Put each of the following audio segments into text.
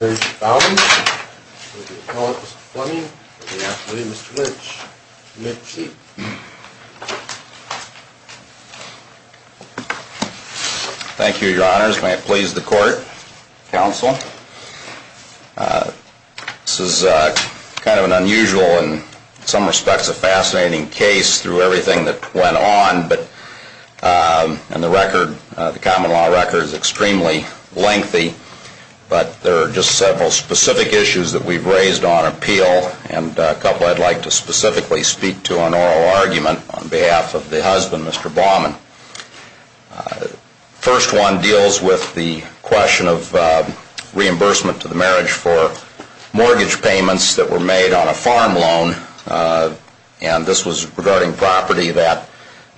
Mr. Fleming, Mr. Lynch, and Mr. Tietze. Thank you, your honors. May it please the court, counsel. This is kind of an unusual and in some respects a fascinating case through everything that went on, and the record, the common law record is extremely lengthy, but there are just several specific issues that we've raised on appeal, and a couple I'd like to specifically speak to on oral argument on behalf of the husband, Mr. Bauman. First one deals with the question of reimbursement to the marriage for mortgage payments that were made on a farm loan, and this was regarding property that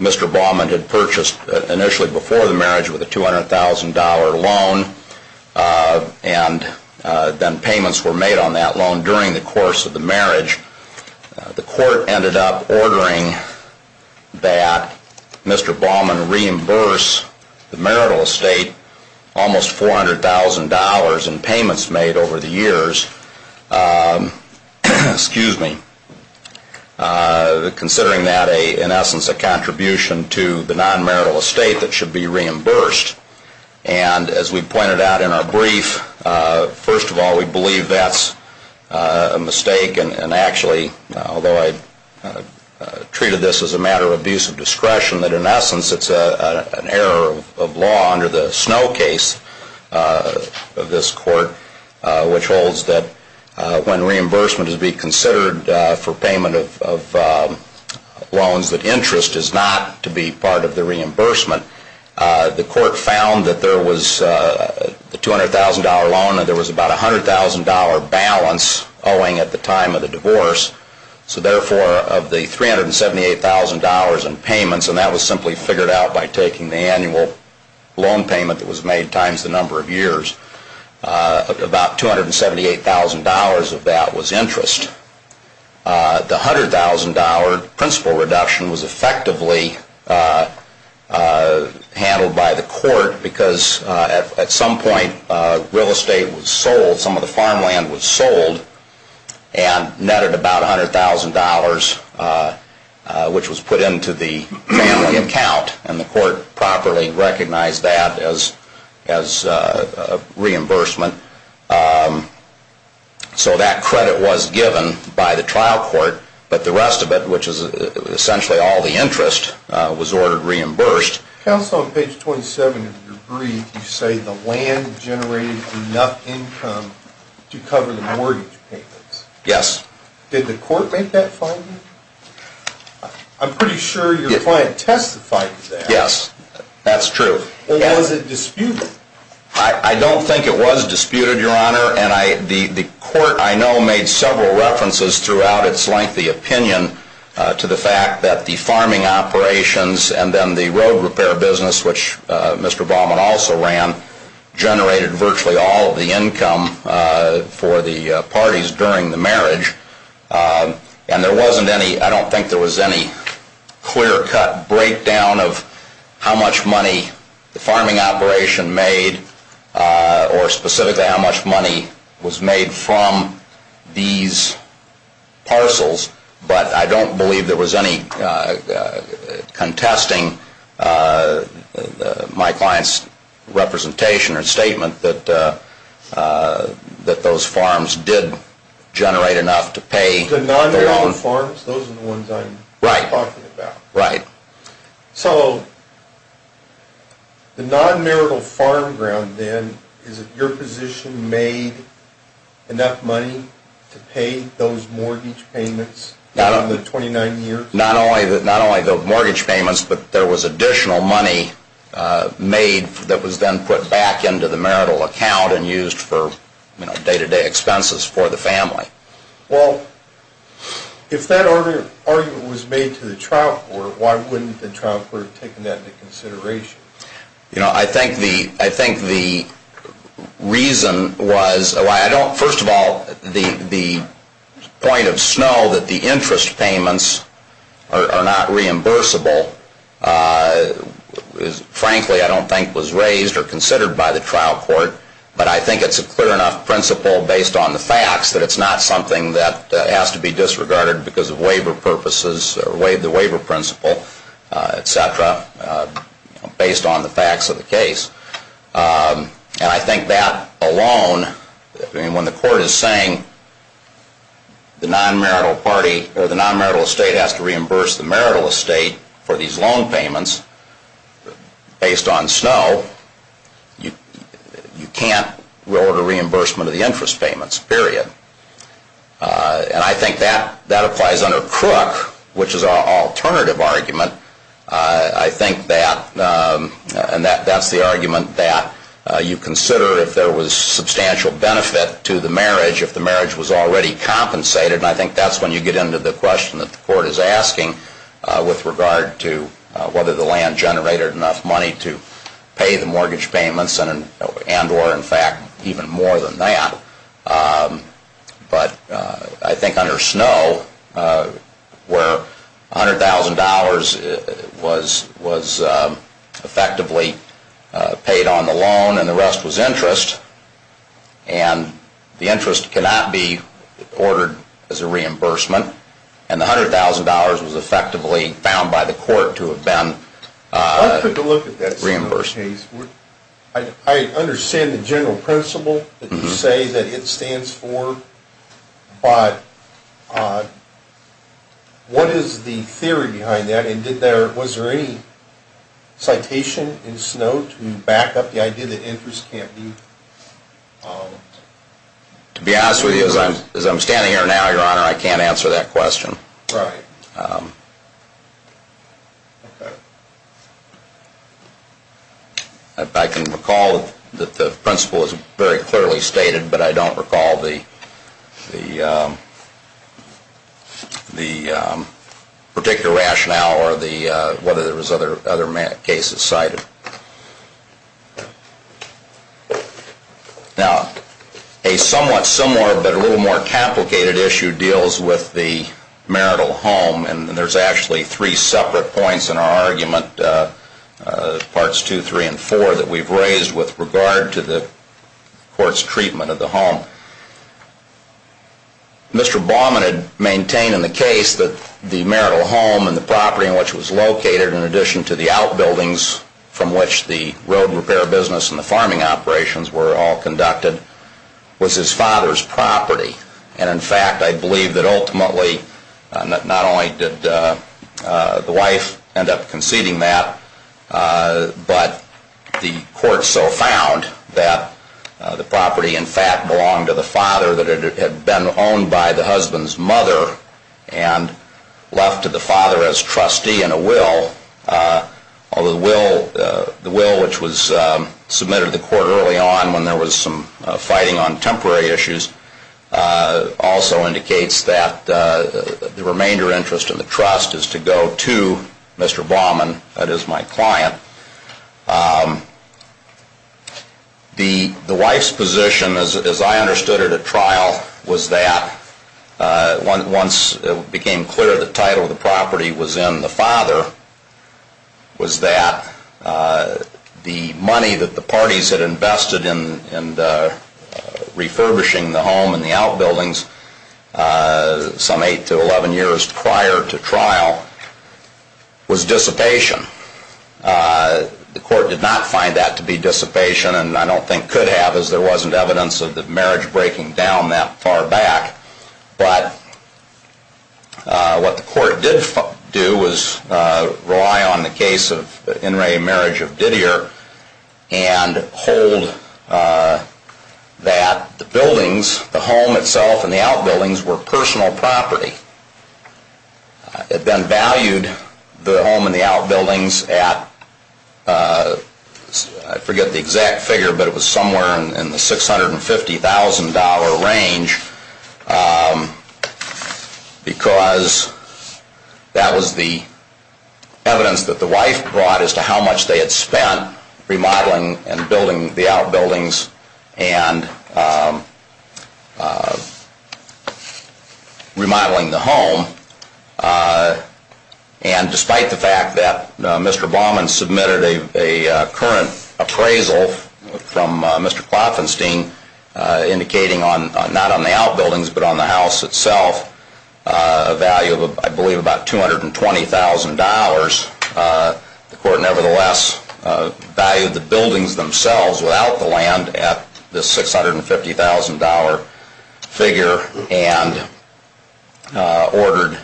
Mr. Bauman had purchased initially before the marriage with a $200,000 loan, and then payments were made on that loan during the course of the marriage. The court ended up ordering that Mr. Bauman reimburse the marital estate almost $400,000 in payments made over the years. Considering that, in essence, a contribution to the non-marital estate that should be reimbursed, and as we pointed out in our brief, first of all, we believe that's a mistake, and actually, although I treated this as a matter of abuse of discretion, that in essence it's an error of law under the Snow case of this court, which holds that when reimbursement is being considered for payment of loans, that interest is not to be part of the reimbursement. The court found that there was the $200,000 loan, and there was about a $100,000 balance owing at the time of the divorce, so therefore, of the $378,000 in payments, and that was simply figured out by taking the annual loan payment that was made times the number of years, about $278,000 of that was interest. The $100,000 principal reduction was effectively handled by the court, because at some point real estate was sold, some of the farmland was sold, and netted about $100,000, which was put into the family account, and the court properly recognized that as reimbursement. So that credit was given by the trial court, but the rest of it, which is essentially all the interest, was ordered reimbursed. Counsel, on page 27 of your brief, you say the land generated enough income to cover the mortgage payments. Yes. Did the court make that finding? I'm pretty sure your client testified to that. Yes, that's true. Or was it disputed? I don't think it was disputed, Your Honor, and the court, I know, made several references throughout its lengthy opinion to the fact that the farming operations and then the road repair business, which Mr. Baumann also ran, generated virtually all of the income for the parties during the marriage, and there wasn't any, I don't think there was any clear-cut breakdown of how much money the farming operation made, or specifically how much money was made from these parcels, but I don't believe there was any contesting my client's representation or statement that those farms did generate enough to pay. The non-marital farms, those are the ones I'm talking about. Right. So the non-marital farm ground, then, is it your position made enough money to pay those mortgage payments in the 29 years? Not only the mortgage payments, but there was additional money made that was then put back into the marital account and used for day-to-day expenses for the family. Well, if that argument was made to the trial court, why wouldn't the trial court have taken that into consideration? You know, I think the reason was, first of all, the point of snow that the interest payments are not reimbursable, frankly, I don't think was raised or considered by the trial court, but I think it's a clear enough principle based on the facts that it's not something that has to be disregarded because of waiver purposes or the waiver principle, et cetera, based on the facts of the case. And I think that alone, I mean, when the court is saying the non-marital party or the non-marital estate has to reimburse the marital estate for these loan payments based on snow, you can't order reimbursement of the interest payments, period. And I think that applies under Crook, which is an alternative argument. I think that, and that's the argument that you consider if there was substantial benefit to the marriage if the marriage was already compensated, and I think that's when you get into the question that the court is asking with regard to whether the land generated enough money to pay the mortgage payments and or, in fact, even more than that. But I think under snow, where $100,000 was effectively paid on the loan and the rest was interest, and the interest cannot be ordered as a reimbursement, and the $100,000 was effectively found by the court to have been reimbursed. I understand the general principle that you say that it stands for, but what is the theory behind that? And was there any citation in snow to back up the idea that interest can't be? To be honest with you, as I'm standing here now, Your Honor, I can't answer that question. Right. Okay. I can recall that the principle is very clearly stated, but I don't recall the particular rationale or whether there was other cases cited. Now, a somewhat similar but a little more complicated issue deals with the marital home, and there's actually three separate points in our argument, Parts 2, 3, and 4, that we've raised with regard to the court's treatment of the home. Mr. Baumann had maintained in the case that the marital home and the property in which it was located, in addition to the outbuildings from which the road repair business and the farming operations were all conducted, was his father's property. And in fact, I believe that ultimately not only did the wife end up conceding that, but the court so found that the property, in fact, belonged to the father, that it had been owned by the husband's mother and left to the father as trustee in a will. Although the will, which was submitted to the court early on when there was some fighting on temporary issues, also indicates that the remainder interest in the trust is to go to Mr. Baumann, that is, my client. The wife's position, as I understood it at trial, was that once it became clear the title of the property was in the father, was that the money that the parties had invested in refurbishing the home and the outbuildings some 8 to 11 years prior to trial was dissipation. The court did not find that to be dissipation, and I don't think could have, as there wasn't evidence of the marriage breaking down that far back. But what the court did do was rely on the case of In re Marriage of Didier and hold that the buildings, the home itself and the outbuildings, were personal property. It then valued the home and the outbuildings at, I forget the exact figure, but it was somewhere in the $650,000 range because that was the evidence that the wife brought as to how much they had spent remodeling and building the outbuildings and remodeling the home. And despite the fact that Mr. Baumann submitted a current appraisal from Mr. Klopfenstein indicating not on the outbuildings but on the house itself a value of, I believe, about $220,000, the court nevertheless valued the buildings themselves without the land at the $650,000 figure and awarded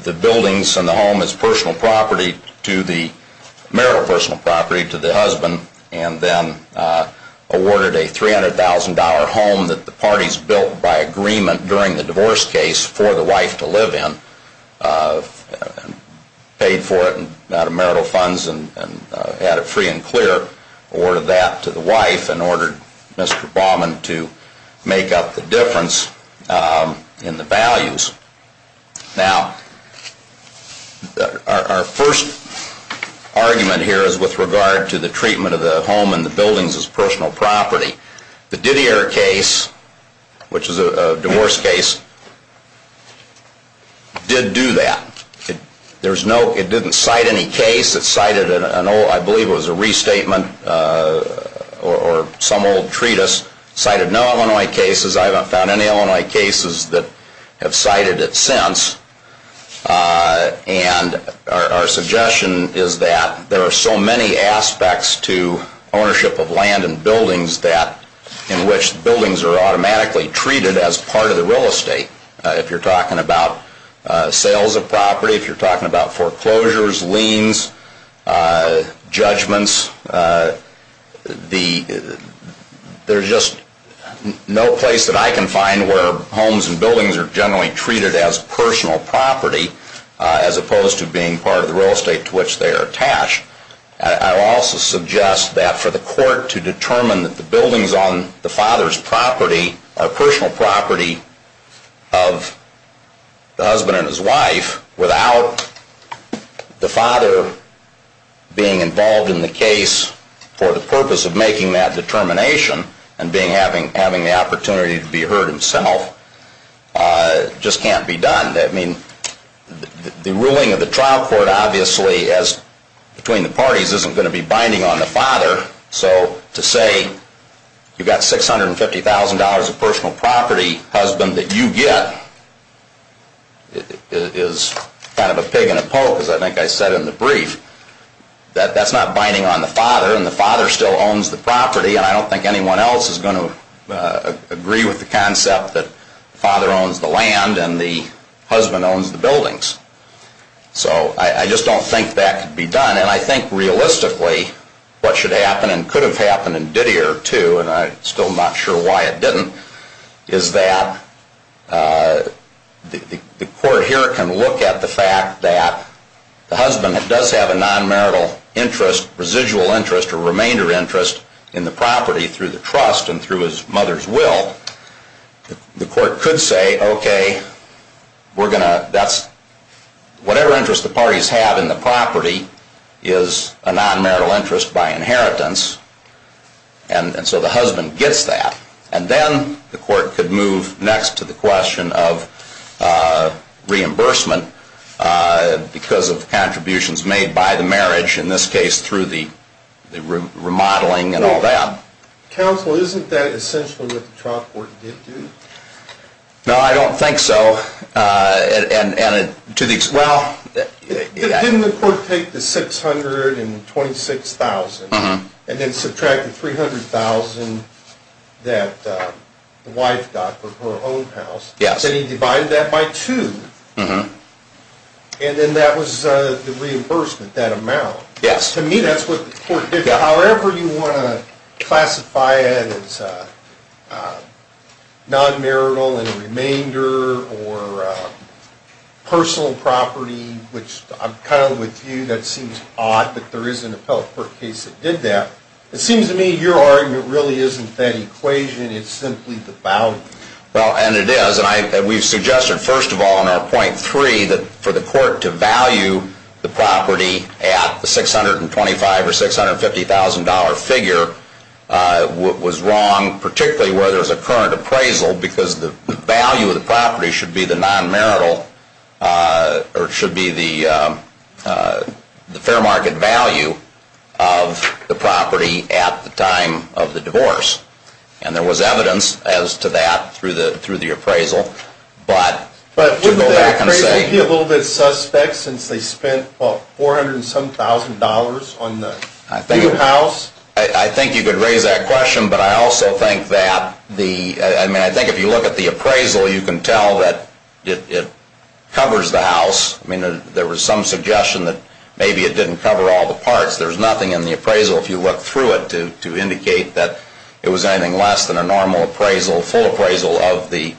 the buildings and the home as personal property to the marital personal property to the husband and then awarded a $300,000 home that the parties built by agreement during the divorce case for the wife to live in, paid for it out of marital funds and had it free and clear, awarded that to the wife and ordered Mr. Baumann to make up the difference in the values. Now, our first argument here is with regard to the treatment of the home and the buildings as personal property. The Didier case, which is a divorce case, did do that. It didn't cite any case. It cited an old, I believe it was a restatement or some old treatise. It cited no Illinois cases. I haven't found any Illinois cases that have cited it since. And our suggestion is that there are so many aspects to ownership of land and buildings in which buildings are automatically treated as part of the real estate. If you're talking about sales of property, if you're talking about foreclosures, liens, judgments, there's just no place that I can find where homes and buildings are generally treated as personal property as opposed to being part of the real estate to which they are attached. I also suggest that for the court to determine that the buildings on the father's property are personal property of the husband and his wife without the father being involved in the case for the purpose of making that determination and having the opportunity to be heard himself just can't be done. I mean, the ruling of the trial court obviously, as between the parties, isn't going to be binding on the father. So to say you've got $650,000 of personal property, husband, that you get is kind of a pig in a poke, as I think I said in the brief, that that's not binding on the father and the father still owns the property and I don't think anyone else is going to agree with the concept that the father owns the land and the husband owns the buildings. So I just don't think that could be done and I think realistically what should happen and could have happened in Didier too, and I'm still not sure why it didn't, is that the court here can look at the fact that the husband does have a non-marital interest, a residual interest or remainder interest in the property through the trust and through his mother's will. The court could say, okay, whatever interest the parties have in the property is a non-marital interest by inheritance and so the husband gets that. And then the court could move next to the question of reimbursement because of contributions made by the marriage, in this case through the remodeling and all that. Counsel, isn't that essentially what the trial court did do? No, I don't think so. Didn't the court take the $626,000 and then subtract the $300,000 that the wife got for her own house? Yes. And then he divided that by two and then that was the reimbursement, that amount. Yes. To me that's what the court did. However you want to classify it as non-marital and remainder or personal property, which I'm kind of with you, that seems odd, but there is an appellate court case that did that. It seems to me your argument really isn't that equation, it's simply the boundary. Well, and it is. And we've suggested first of all in our point three that for the court to value the property at the $625,000 or $650,000 figure was wrong, particularly where there's a current appraisal because the value of the property should be the non-marital or should be the fair market value of the property at the time of the divorce. And there was evidence as to that through the appraisal, but to go back and say But wouldn't the appraiser be a little bit suspect since they spent $400,000 on the new house? I think you could raise that question, but I also think that the, I mean I think if you look at the appraisal you can tell that it covers the house. I mean there was some suggestion that maybe it didn't cover all the parts. There's nothing in the appraisal if you look through it to indicate that it was anything less than a normal appraisal, full appraisal of the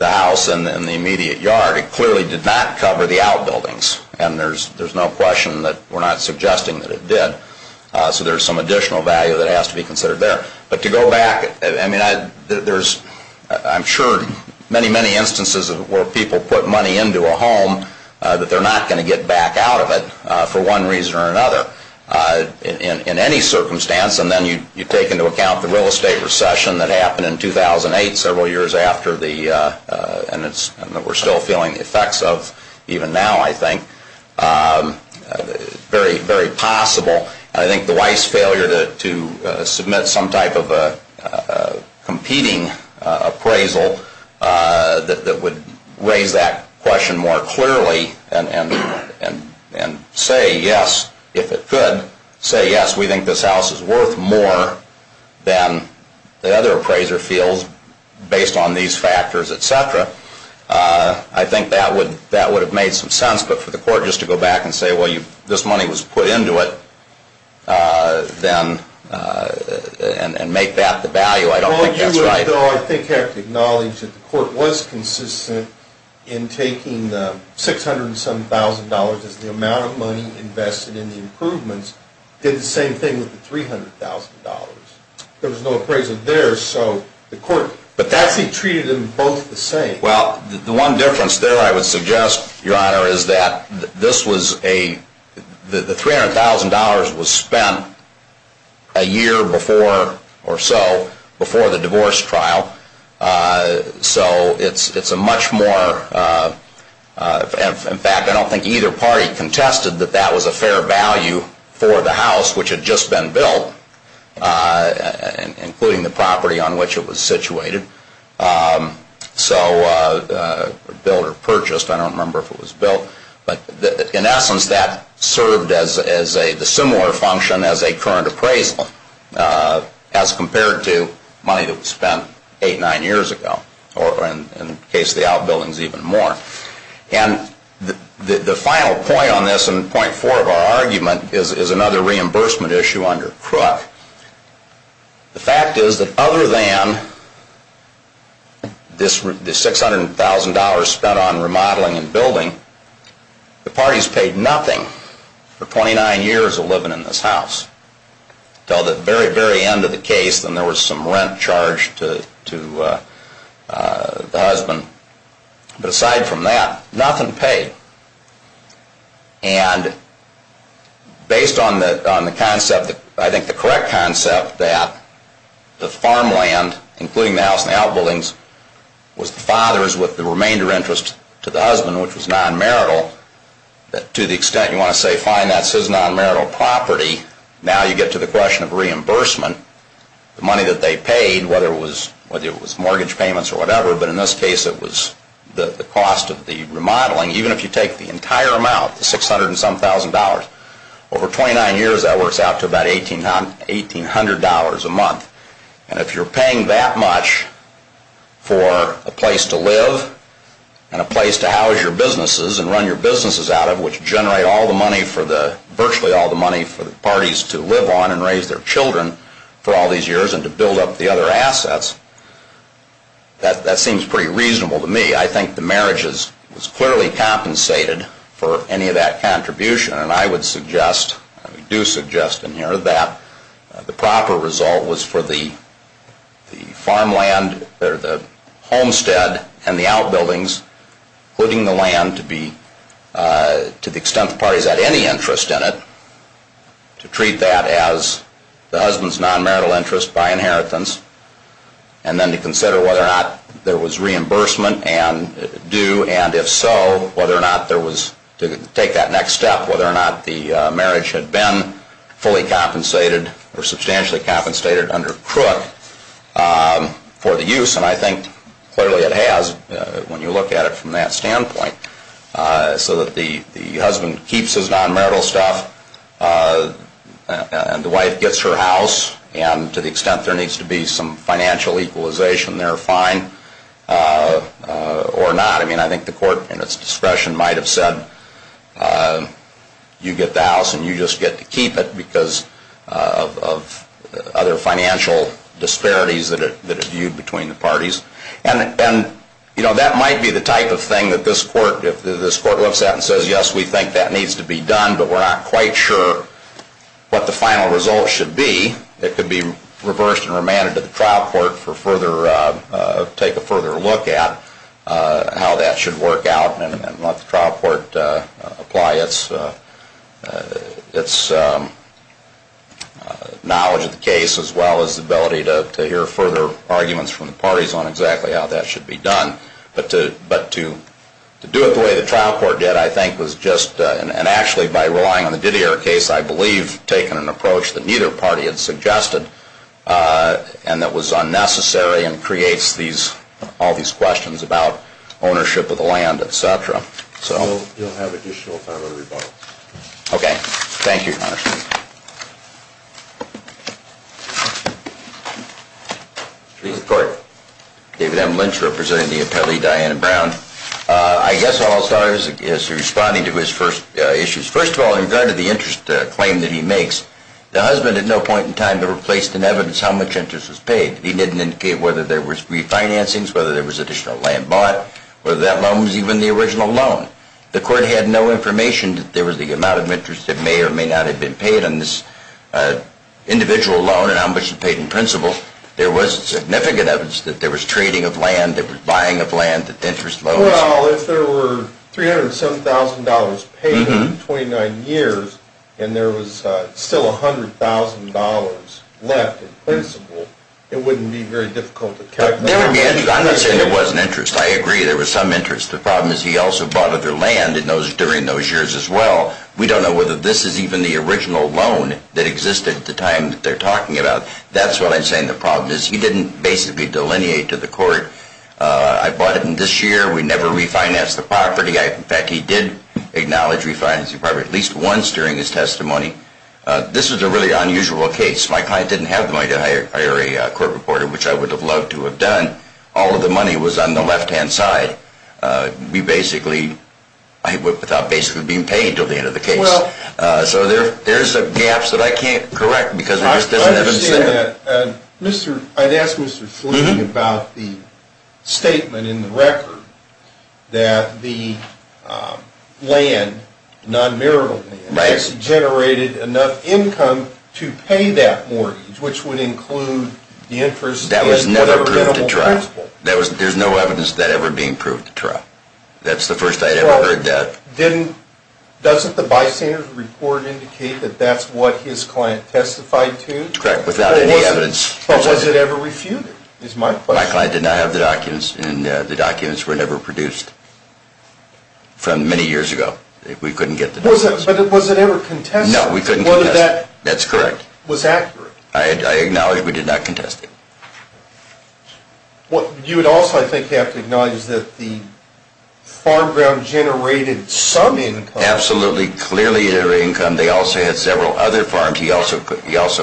house and the immediate yard. It clearly did not cover the outbuildings, and there's no question that we're not suggesting that it did. So there's some additional value that has to be considered there. But to go back, I mean there's I'm sure many, many instances where people put money into a home that they're not going to get back out of it for one reason or another in any circumstance. And then you take into account the real estate recession that happened in 2008 several years after the, and that we're still feeling the effects of even now I think, very, very possible. And I think the Weiss failure to submit some type of a competing appraisal that would raise that question more clearly and say yes, if it could, say yes, we think this house is worth more than the other appraiser feels based on these factors, et cetera. I think that would have made some sense. But for the court just to go back and say, well, this money was put into it, and make that the value, I don't think that's right. Although I think you have to acknowledge that the court was consistent in taking the $600,000 as the amount of money invested in the improvements, did the same thing with the $300,000. There was no appraisal there, so the court, but that's treated them both the same. Well, the one difference there I would suggest, Your Honor, is that this was a, the $300,000 was spent a year before or so, before the divorce trial. So it's a much more, in fact, I don't think either party contested that that was a fair value for the house, which had just been built, including the property on which it was situated. So built or purchased, I don't remember if it was built. But in essence, that served as a similar function as a current appraisal, as compared to money that was spent eight, nine years ago, or in the case of the outbuildings, even more. And the final point on this, and point four of our argument, is another reimbursement issue under Crook. The fact is that other than this $600,000 spent on remodeling and building, the parties paid nothing for 29 years of living in this house, until the very, very end of the case when there was some rent charged to the husband. But aside from that, nothing paid. And based on the concept, I think the correct concept, that the farmland, including the house and the outbuildings, was the father's with the remainder interest to the husband, which was non-marital, to the extent you want to say, fine, that's his non-marital property, now you get to the question of reimbursement, the money that they paid, whether it was mortgage payments or whatever, but in this case it was the cost of the remodeling. Even if you take the entire amount, the 600 and some thousand dollars, over 29 years that works out to about $1,800 a month. And if you're paying that much for a place to live and a place to house your businesses and run your businesses out of, which generate all the money for the, virtually all the money for the parties to live on and raise their children for all these years and to build up the other assets, that seems pretty reasonable to me. I think the marriage was clearly compensated for any of that contribution, and I would suggest, I do suggest in here, that the proper result was for the farmland, or the homestead and the outbuildings, including the land to the extent the parties had any interest in it, to treat that as the husband's non-marital interest by inheritance, and then to consider whether or not there was reimbursement due, and if so, whether or not there was, to take that next step, whether or not the marriage had been fully compensated or substantially compensated under crook for the use, and I think clearly it has when you look at it from that standpoint, so that the husband keeps his non-marital stuff and the wife gets her house, and to the extent there needs to be some financial equalization there, fine, or not. I mean, I think the court, in its discretion, might have said you get the house and you just get to keep it because of other financial disparities that are viewed between the parties, and that might be the type of thing that this court, if this court looks at it and says, yes, we think that needs to be done, but we're not quite sure what the final result should be, it could be reversed and remanded to the trial court to take a further look at how that should work out and let the trial court apply its knowledge of the case, as well as the ability to hear further arguments from the parties on exactly how that should be done, but to do it the way the trial court did, I think, was just, and actually by relying on the Didier case, I believe, taking an approach that neither party had suggested and that was unnecessary and creates all these questions about ownership of the land, et cetera. So you'll have additional time for rebuttal. Okay, thank you, Your Honor. Thank you. Mr. Chief of Court, David M. Lynch representing the appellee Diana Brown. I guess all I'll start is responding to his first issues. First of all, in regard to the interest claim that he makes, the husband at no point in time ever placed in evidence how much interest was paid. He didn't indicate whether there was refinancings, whether there was additional land bought, whether that loan was even the original loan. The court had no information that there was the amount of interest that may or may not have been paid on this individual loan and how much was paid in principle. There was significant evidence that there was trading of land, that there was buying of land, that the interest was. Well, if there were $307,000 paid in 29 years and there was still $100,000 left in principle, it wouldn't be very difficult to calculate. There would be interest. I'm not saying there wasn't interest. I agree there was some interest. The problem is he also bought other land during those years as well. We don't know whether this is even the original loan that existed at the time that they're talking about. That's what I'm saying the problem is. He didn't basically delineate to the court. I bought it in this year. We never refinanced the property. In fact, he did acknowledge refinancing the property at least once during his testimony. This was a really unusual case. My client didn't have the money to hire a court reporter, which I would have loved to have done. All of the money was on the left-hand side without basically being paid until the end of the case. So there's gaps that I can't correct because we just didn't have incentive. I understand that. I'd ask Mr. Fleeting about the statement in the record that the land, non-marital land, actually generated enough income to pay that mortgage, which would include the interest. That was never proved to trial. There's no evidence of that ever being proved to trial. That's the first I'd ever heard that. Doesn't the bystander's report indicate that that's what his client testified to? Correct, without any evidence. But was it ever refuted is my question. My client did not have the documents, and the documents were never produced from many years ago. We couldn't get the documents. But was it ever contested? No, we couldn't contest it. That's correct. It was accurate. I acknowledge we did not contest it. You would also, I think, have to acknowledge that the farm ground generated some income. Absolutely. Clearly it generated income. They also had several other farms. He also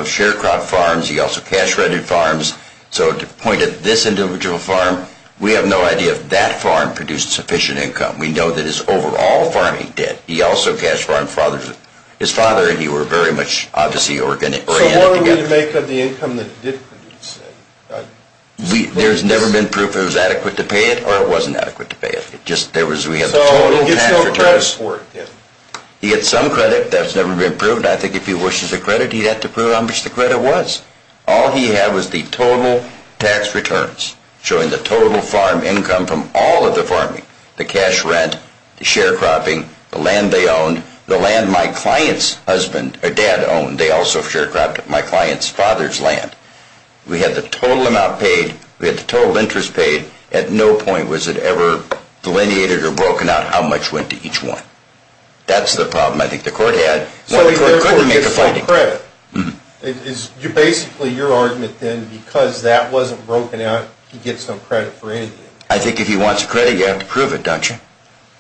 sharecropped farms. He also cash-rented farms. So to point at this individual farm, we have no idea if that farm produced sufficient income. We know that his overall farming did. He also cash-rented farms. His father and he were very much, obviously, oriented together. So what would we make of the income that did produce it? There's never been proof it was adequate to pay it, or it wasn't adequate to pay it. So he gets no credit for it, then? He gets some credit. That's never been proven. I think if he wishes a credit, he'd have to prove how much the credit was. All he had was the total tax returns, showing the total farm income from all of the farming, the cash rent, the sharecropping, the land they owned, the land my client's dad owned. They also sharecropped my client's father's land. We had the total amount paid. We had the total interest paid. At no point was it ever delineated or broken out how much went to each one. That's the problem I think the court had. So the court couldn't get some credit. Basically your argument, then, because that wasn't broken out, he gets no credit for anything. I think if he wants credit, you have to prove it, don't you?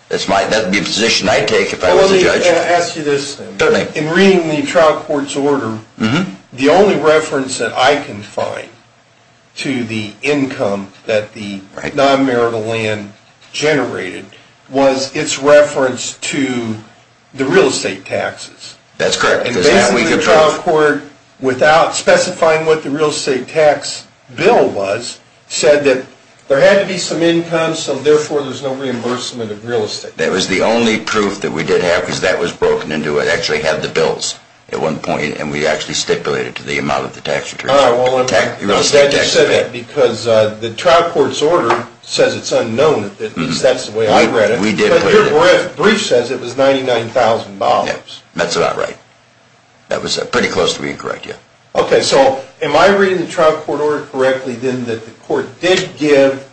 That would be a position I'd take if I was a judge. Let me ask you this thing. In reading the trial court's order, the only reference that I can find to the income that the non-marital land generated was its reference to the real estate taxes. That's correct. Basically the trial court, without specifying what the real estate tax bill was, said that there had to be some income so therefore there's no reimbursement of real estate. That was the only proof that we did have because that was broken into. It actually had the bills at one point, and we actually stipulated to the amount of the tax return. I just said that because the trial court's order says it's unknown. At least that's the way I read it. But your brief says it was $99,000. That's about right. That was pretty close to being correct, yeah. Okay, so am I reading the trial court order correctly then that the court did give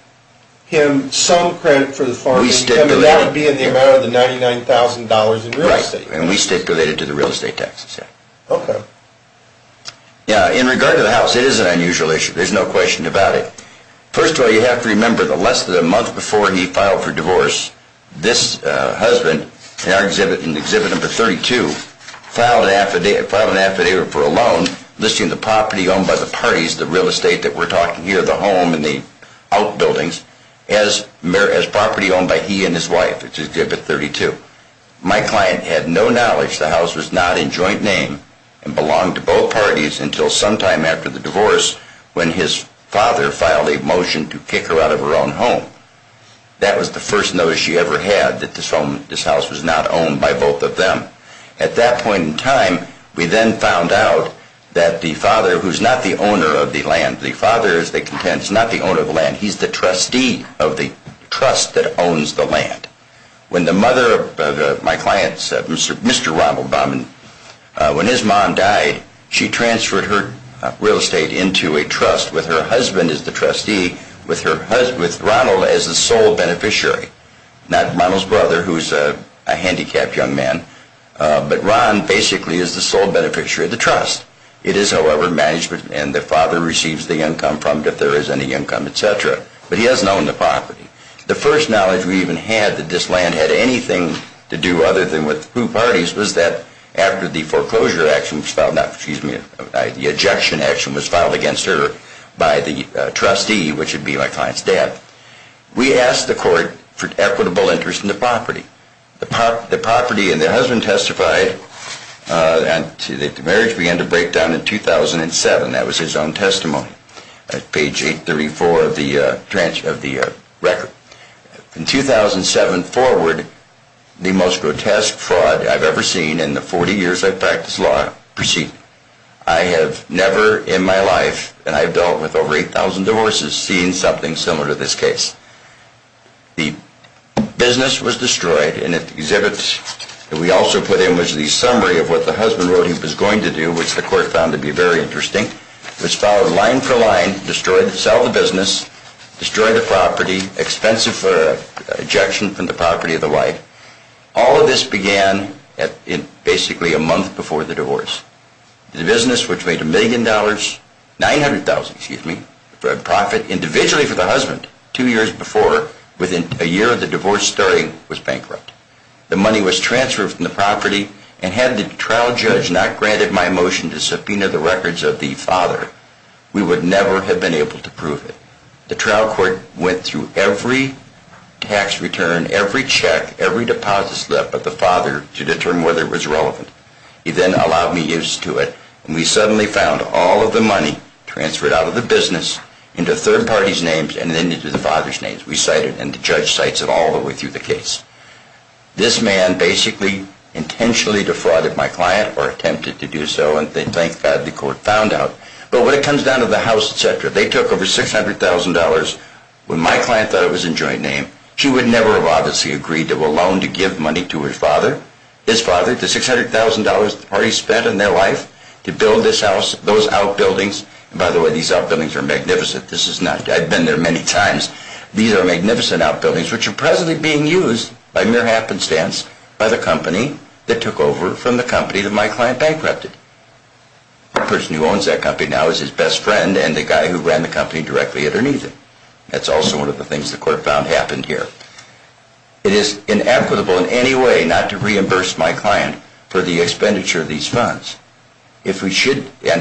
him some credit for the farm? We stipulated. That would be in the amount of the $99,000 in real estate. Right, and we stipulated to the real estate taxes, yeah. Okay. In regard to the house, it is an unusual issue. There's no question about it. First of all, you have to remember the less than a month before he filed for divorce, this husband, in exhibit number 32, filed an affidavit for a loan listing the property owned by the parties, the real estate that we're talking here, the home and the outbuildings, as property owned by he and his wife. It's exhibit 32. My client had no knowledge the house was not in joint name and belonged to both parties until sometime after the divorce when his father filed a motion to kick her out of her own home. That was the first notice she ever had that this home, this house was not owned by both of them. At that point in time, we then found out that the father, who's not the owner of the land, the father, as they contend, is not the owner of the land. He's the trustee of the trust that owns the land. When the mother of my client, Mr. Ronald Baumann, when his mom died, she transferred her real estate into a trust with her husband as the trustee, with Ronald as the sole beneficiary. Not Ronald's brother, who's a handicapped young man, but Ron basically is the sole beneficiary of the trust. It is, however, management, and the father receives the income from it if there is any income, et cetera. But he doesn't own the property. The first knowledge we even had that this land had anything to do other than with two parties was that after the foreclosure action was filed, excuse me, the ejection action was filed against her by the trustee, which would be my client's dad, we asked the court for equitable interest in the property. The property and the husband testified that the marriage began to break down in 2007. That was his own testimony at page 834 of the record. In 2007 forward, the most grotesque fraud I've ever seen in the 40 years I've practiced law preceded. I have never in my life, and I've dealt with over 8,000 divorces, seen something similar to this case. The business was destroyed, and at the exhibit that we also put in was the summary of what the husband wrote he was going to do, which the court found to be very interesting. It was filed line for line, destroyed, sell the business, destroyed the property, expensive ejection from the property of the wife. All of this began basically a month before the divorce. The business, which made $1,000,000, $900,000, excuse me, profit individually for the husband two years before, within a year of the divorce starting was bankrupt. The money was transferred from the property, and had the trial judge not granted my motion to subpoena the records of the father, we would never have been able to prove it. The trial court went through every tax return, every check, every deposit left by the father to determine whether it was relevant. He then allowed me use to it, and we suddenly found all of the money transferred out of the business into third parties' names and then into the father's names. We cite it, and the judge cites it all the way through the case. This man basically intentionally defrauded my client, or attempted to do so, and thank God the court found out. But when it comes down to the house, etc., they took over $600,000 when my client thought it was in joint name. She would never have obviously agreed to a loan to give money to her father, his father, the $600,000 the parties spent on their life, to build this house, those outbuildings. By the way, these outbuildings are magnificent. I've been there many times. These are magnificent outbuildings which are presently being used, by mere happenstance, by the company that took over from the company that my client bankrupted. The person who owns that company now is his best friend and the guy who ran the company directly underneath it. That's also one of the things the court found happened here. It is inequitable in any way not to reimburse my client for the expenditure of these funds. And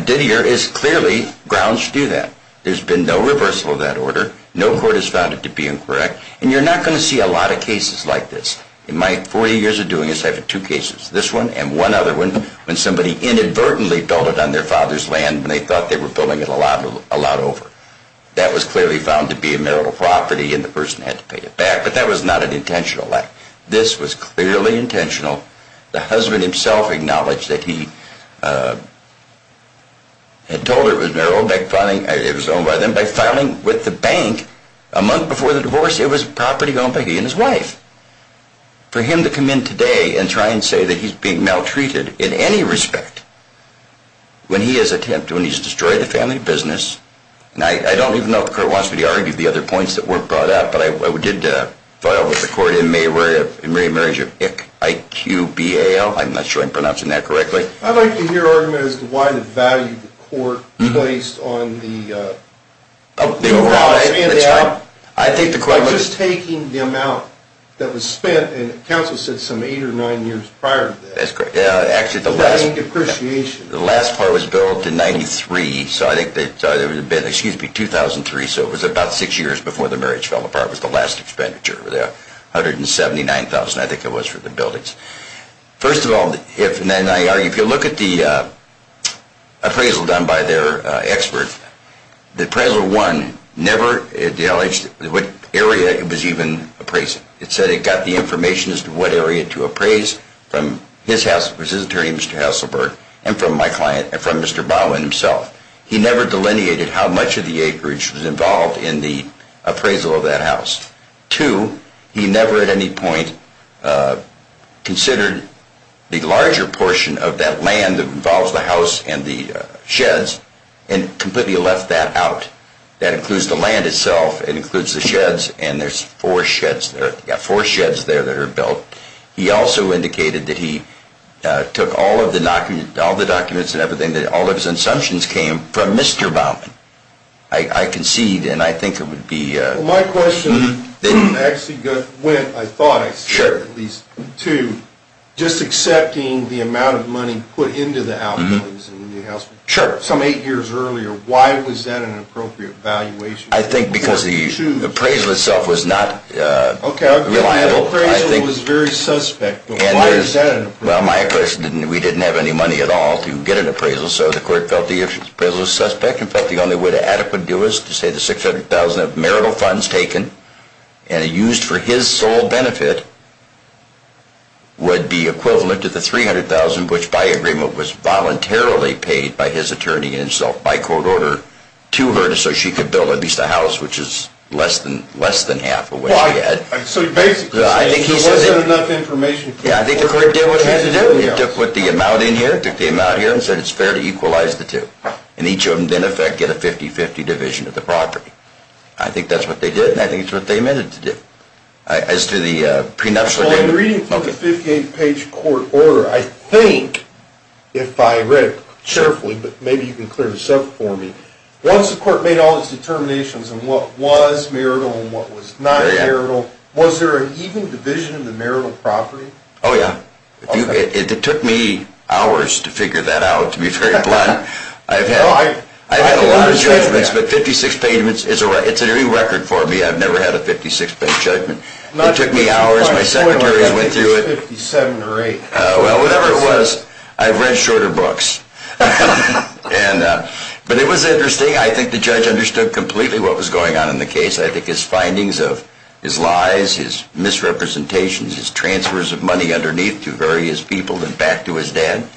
Didier is clearly grounds to do that. There's been no reversal of that order. No court has found it to be incorrect. And you're not going to see a lot of cases like this. In my 40 years of doing this, I've had two cases, this one and one other one, when somebody inadvertently built it on their father's land when they thought they were building it a lot over. That was clearly found to be a marital property and the person had to pay it back, but that was not an intentional act. This was clearly intentional. The husband himself acknowledged that he had told her it was marital, it was owned by them. By filing with the bank a month before the divorce, it was property owned by he and his wife. For him to come in today and try and say that he's being maltreated in any respect, when he has attempted, when he's destroyed the family business, and I don't even know if the court wants me to argue the other points that were brought up, but I did file with the court in May of remarriage of ICQBAL. I'm not sure I'm pronouncing that correctly. I'd like to hear arguments as to why the value the court placed on the divorce and the out. I think the court was... Just taking the amount that was spent, and counsel said some eight or nine years prior to that. That's correct. And the depreciation. The last part was billed in 93. So I think that it would have been, excuse me, 2003. So it was about six years before the marriage fell apart. It was the last expenditure. $179,000 I think it was for the buildings. First of all, if you look at the appraisal done by their expert, the appraisal one never acknowledged what area it was even appraising. It said it got the information as to what area to appraise from his attorney, Mr. Hasselberg, and from my client and from Mr. Bowen himself. He never delineated how much of the acreage was involved in the appraisal of that house. Two, he never at any point considered the larger portion of that land that involves the house and the sheds and completely left that out. That includes the land itself. It includes the sheds, and there's four sheds there that are built. He also indicated that he took all of the documents and everything, that all of his assumptions came from Mr. Bowen. I concede, and I think it would be... Well, my question actually went, I thought, at least, to just accepting the amount of money put into the outlays in the new house some eight years earlier. Why was that an appropriate valuation? I think because the appraisal itself was not reliable. The appraisal was very suspect, but why is that an appraisal? Well, my question, we didn't have any money at all to get an appraisal, so the court felt the appraisal was suspect and felt the only way to adequately do it was to say the $600,000 of marital funds taken and used for his sole benefit would be equivalent to the $300,000 which, by agreement, was voluntarily paid by his attorney himself, by court order, to her so she could build at least a house, which is less than half of what she had. So you're basically saying there wasn't enough information... Yeah, I think the court did what it had to do. It took the amount in here, took the amount here, and said it's fair to equalize the two. And each of them, in effect, get a 50-50 division of the property. I think that's what they did, and I think it's what they amended to do. As to the prenuptial... Well, in the reading from the 58-page court order, I think, if I read it carefully, but maybe you can clear the sub for me, once the court made all its determinations on what was marital and what was not marital, was there an even division in the marital property? Oh, yeah. It took me hours to figure that out, to be very blunt. I've had a lot of judgments, but 56 pagements is a record for me. I've never had a 56-page judgment. It took me hours. My secretaries went through it. Well, whatever it was, I've read shorter books. But it was interesting. I think the judge understood completely what was going on in the case. I think his findings of his lies, his misrepresentations, his transfers of money underneath to various people and back to his dad,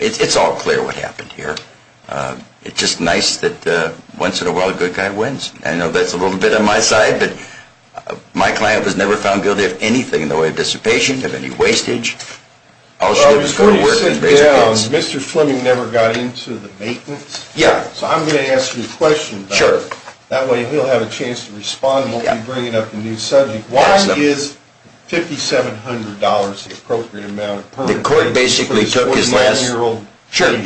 it's all clear what happened here. It's just nice that once in a while a good guy wins. I know that's a little bit on my side, but my client was never found guilty of anything in the way of dissipation, of any wastage. Before you sit down, Mr. Fleming never got into the maintenance? Yeah. So I'm going to ask you a question, that way he'll have a chance to respond and won't be bringing up a new subject. Why is $5,700 the appropriate amount? The court basically took his last... Sure.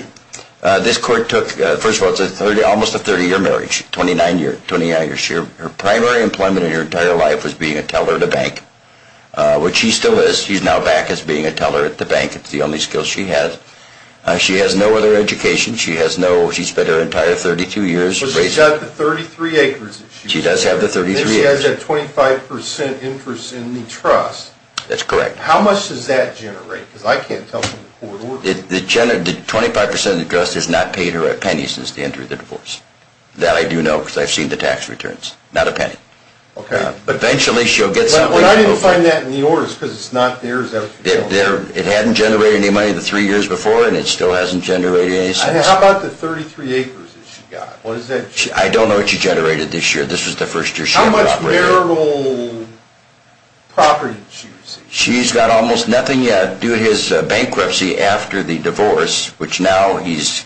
This court took, first of all, it's almost a 30-year marriage, 29 years. Her primary employment in her entire life was being a teller at a bank, which she still is. She's now back as being a teller at the bank. It's the only skill she has. She has no other education. She has no... She spent her entire 32 years raising... But she's got the 33 acres that she... She does have the 33 acres. Then she has that 25% interest in the trust. That's correct. How much does that generate? Because I can't tell from the court order. The 25% interest has not paid her a penny since the end of the divorce. That I do know because I've seen the tax returns. Not a penny. Okay. Eventually she'll get something. I didn't find that in the orders because it's not there. It hadn't generated any money the three years before, and it still hasn't generated any since. How about the 33 acres that she got? I don't know what she generated this year. This was the first year she had property. How much marital property did she receive? She's got almost nothing yet due to his bankruptcy after the divorce, which now he's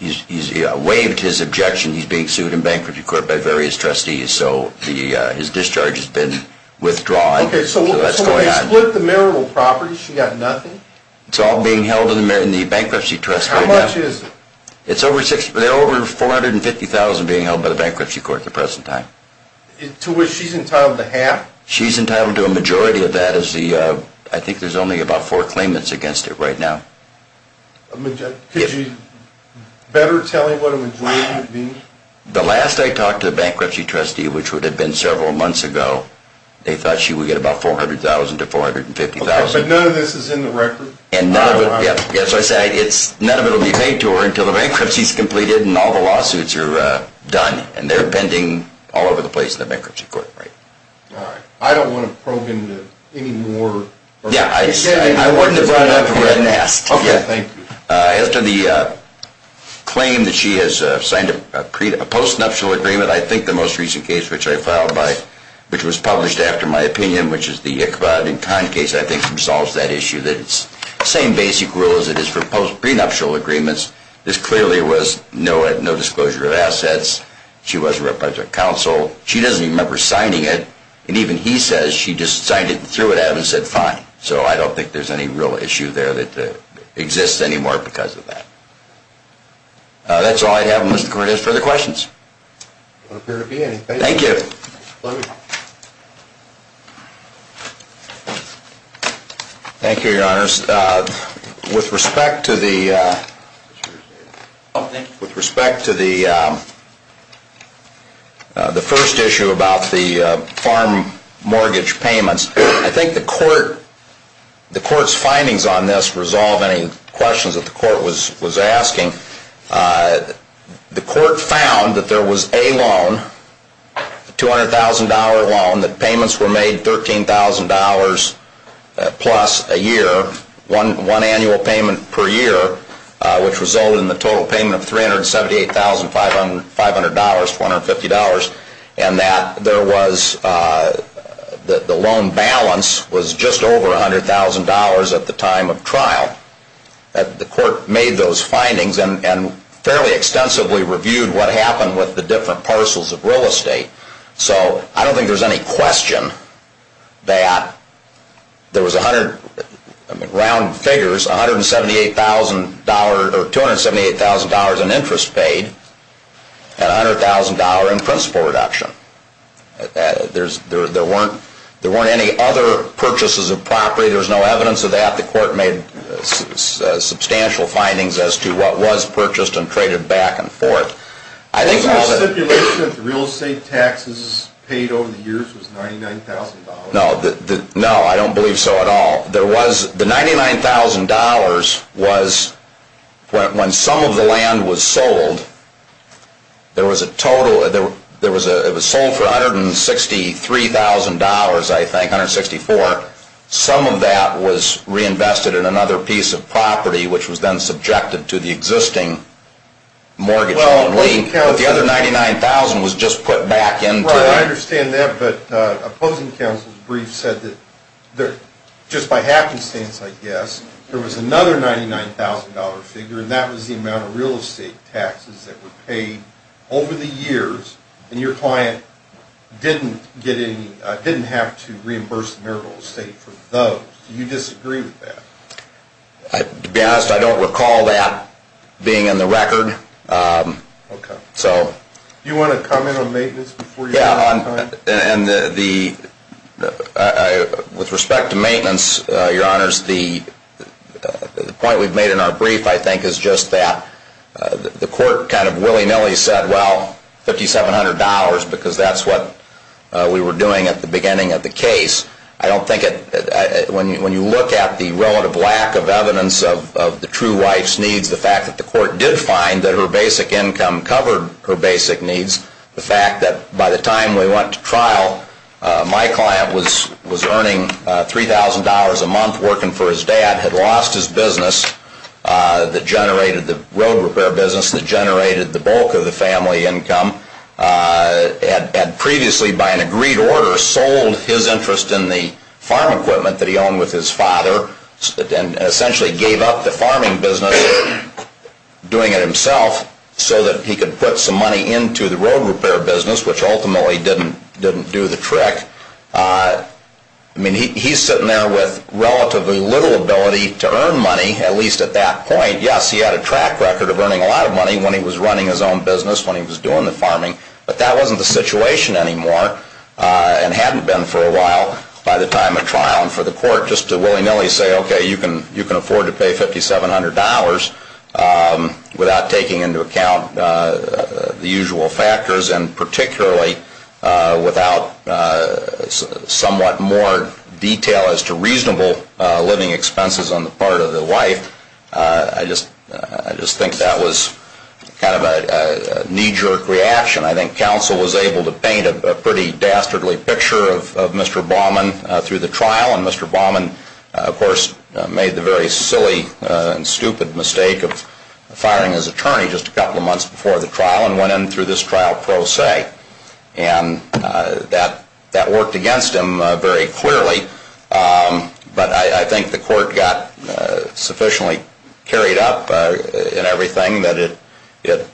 waived his objection. He's being sued in bankruptcy court by various trustees, so his discharge has been withdrawn. Okay, so they split the marital property. She got nothing? It's all being held in the bankruptcy trust right now. How much is it? It's over $450,000 being held by the bankruptcy court at the present time. To which she's entitled to half? She's entitled to a majority of that. I think there's only about four claimants against it right now. Could you better tell me what a majority would be? The last I talked to the bankruptcy trustee, which would have been several months ago, they thought she would get about $400,000 to $450,000. But none of this is in the record? Yes, none of it will be paid to her until the bankruptcy is completed and all the lawsuits are done, and they're pending all over the place in the bankruptcy court. I don't want to probe into any more. I wouldn't have brought it up if you hadn't asked. Okay, thank you. As to the claim that she has signed a postnuptial agreement, I think the most recent case which I filed by, which was published after my opinion, which is the Ichabod and Kahn case, I think solves that issue. It's the same basic rule as it is for post-prenuptial agreements. This clearly was no disclosure of assets. She was a representative of counsel. She doesn't even remember signing it. And even he says she just signed it and threw it at him and said, fine. So I don't think there's any real issue there that exists anymore because of that. That's all I have, Mr. Court. Any further questions? There don't appear to be any. Thank you. Thank you, Your Honors. With respect to the first issue about the farm mortgage payments, I think the court's findings on this resolve any questions that the court was asking. The court found that there was a loan, a $200,000 loan, that payments were made $13,000 plus a year, one annual payment per year, which resulted in the total payment of $378,500, $250, and that the loan balance was just over $100,000 at the time of trial. The court made those findings and fairly extensively reviewed what happened with the different parcels of real estate. So I don't think there's any question that there was, round figures, $278,000 in interest paid and $100,000 in principal reduction. There weren't any other purchases of property. There's no evidence of that. The court made substantial findings as to what was purchased and traded back and forth. The stipulation of real estate taxes paid over the years was $99,000. No, I don't believe so at all. The $99,000 was when some of the land was sold. It was sold for $163,000, I think, $164,000. Some of that was reinvested in another piece of property, which was then subjected to the existing mortgage loan. But the other $99,000 was just put back into it. Right, I understand that, but opposing counsel's brief said that just by happenstance, I guess, there was another $99,000 figure, and that was the amount of real estate taxes that were paid over the years, and your client didn't have to reimburse the marital estate for those. Do you disagree with that? To be honest, I don't recall that being in the record. Okay. Do you want to comment on maintenance before you go on? Yeah, and with respect to maintenance, Your Honors, the point we've made in our brief, I think, is just that the court kind of funnily said, well, $5,700 because that's what we were doing at the beginning of the case. I don't think it, when you look at the relative lack of evidence of the true wife's needs, the fact that the court did find that her basic income covered her basic needs, the fact that by the time we went to trial, my client was earning $3,000 a month working for his dad, had lost his business that generated the road repair business that generated the bulk of the family income, had previously, by an agreed order, sold his interest in the farm equipment that he owned with his father, and essentially gave up the farming business, doing it himself, so that he could put some money into the road repair business, which ultimately didn't do the trick. I mean, he's sitting there with relatively little ability to earn money, at least at that point. Yes, he had a track record of earning a lot of money when he was running his own business, when he was doing the farming, but that wasn't the situation anymore, and hadn't been for a while by the time of trial. And for the court, just to willy-nilly say, okay, you can afford to pay $5,700 without taking into account the usual factors, and particularly without somewhat more detail as to reasonable living expenses on the part of the wife, I just think that was kind of a knee-jerk reaction. I think counsel was able to paint a pretty dastardly picture of Mr. Baumann through the trial, and Mr. Baumann, of course, made the very silly and stupid mistake of firing his attorney just a couple of months before the trial, and went in through this trial pro se. And that worked against him very clearly, but I think the court got sufficiently carried up in everything that it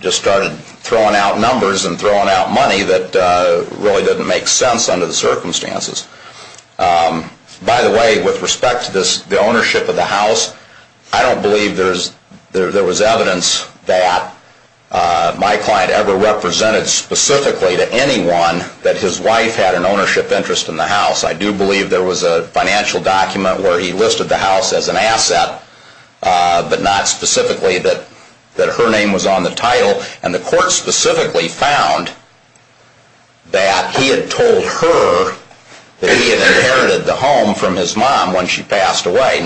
just started throwing out numbers and throwing out money that really didn't make sense under the circumstances. By the way, with respect to the ownership of the house, I don't believe there was evidence that my client ever represented specifically to anyone that his wife had an ownership interest in the house. I do believe there was a financial document where he listed the house as an asset, but not specifically that her name was on the title. And the court specifically found that he had told her that he had inherited the home from his mom when she passed away.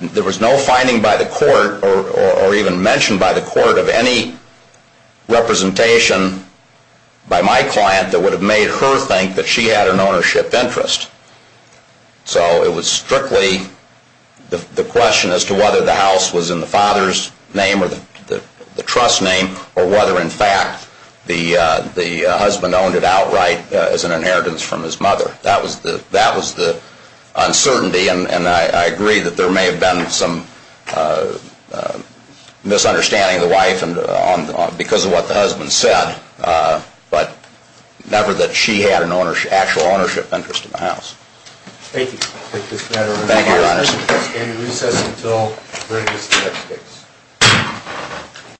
There was no finding by the court or even mentioned by the court of any representation by my client that would have made her think that she had an ownership interest. So it was strictly the question as to whether the house was in the father's name or the trust name, or whether, in fact, the husband owned it outright as an inheritance from his mother. That was the uncertainty. And I agree that there may have been some misunderstanding of the wife because of what the husband said, but never that she had an actual ownership interest in the house. Thank you. Thank you, Mr. Chairman. Thank you, Your Honor. We will stand in recess until verdict is the next case.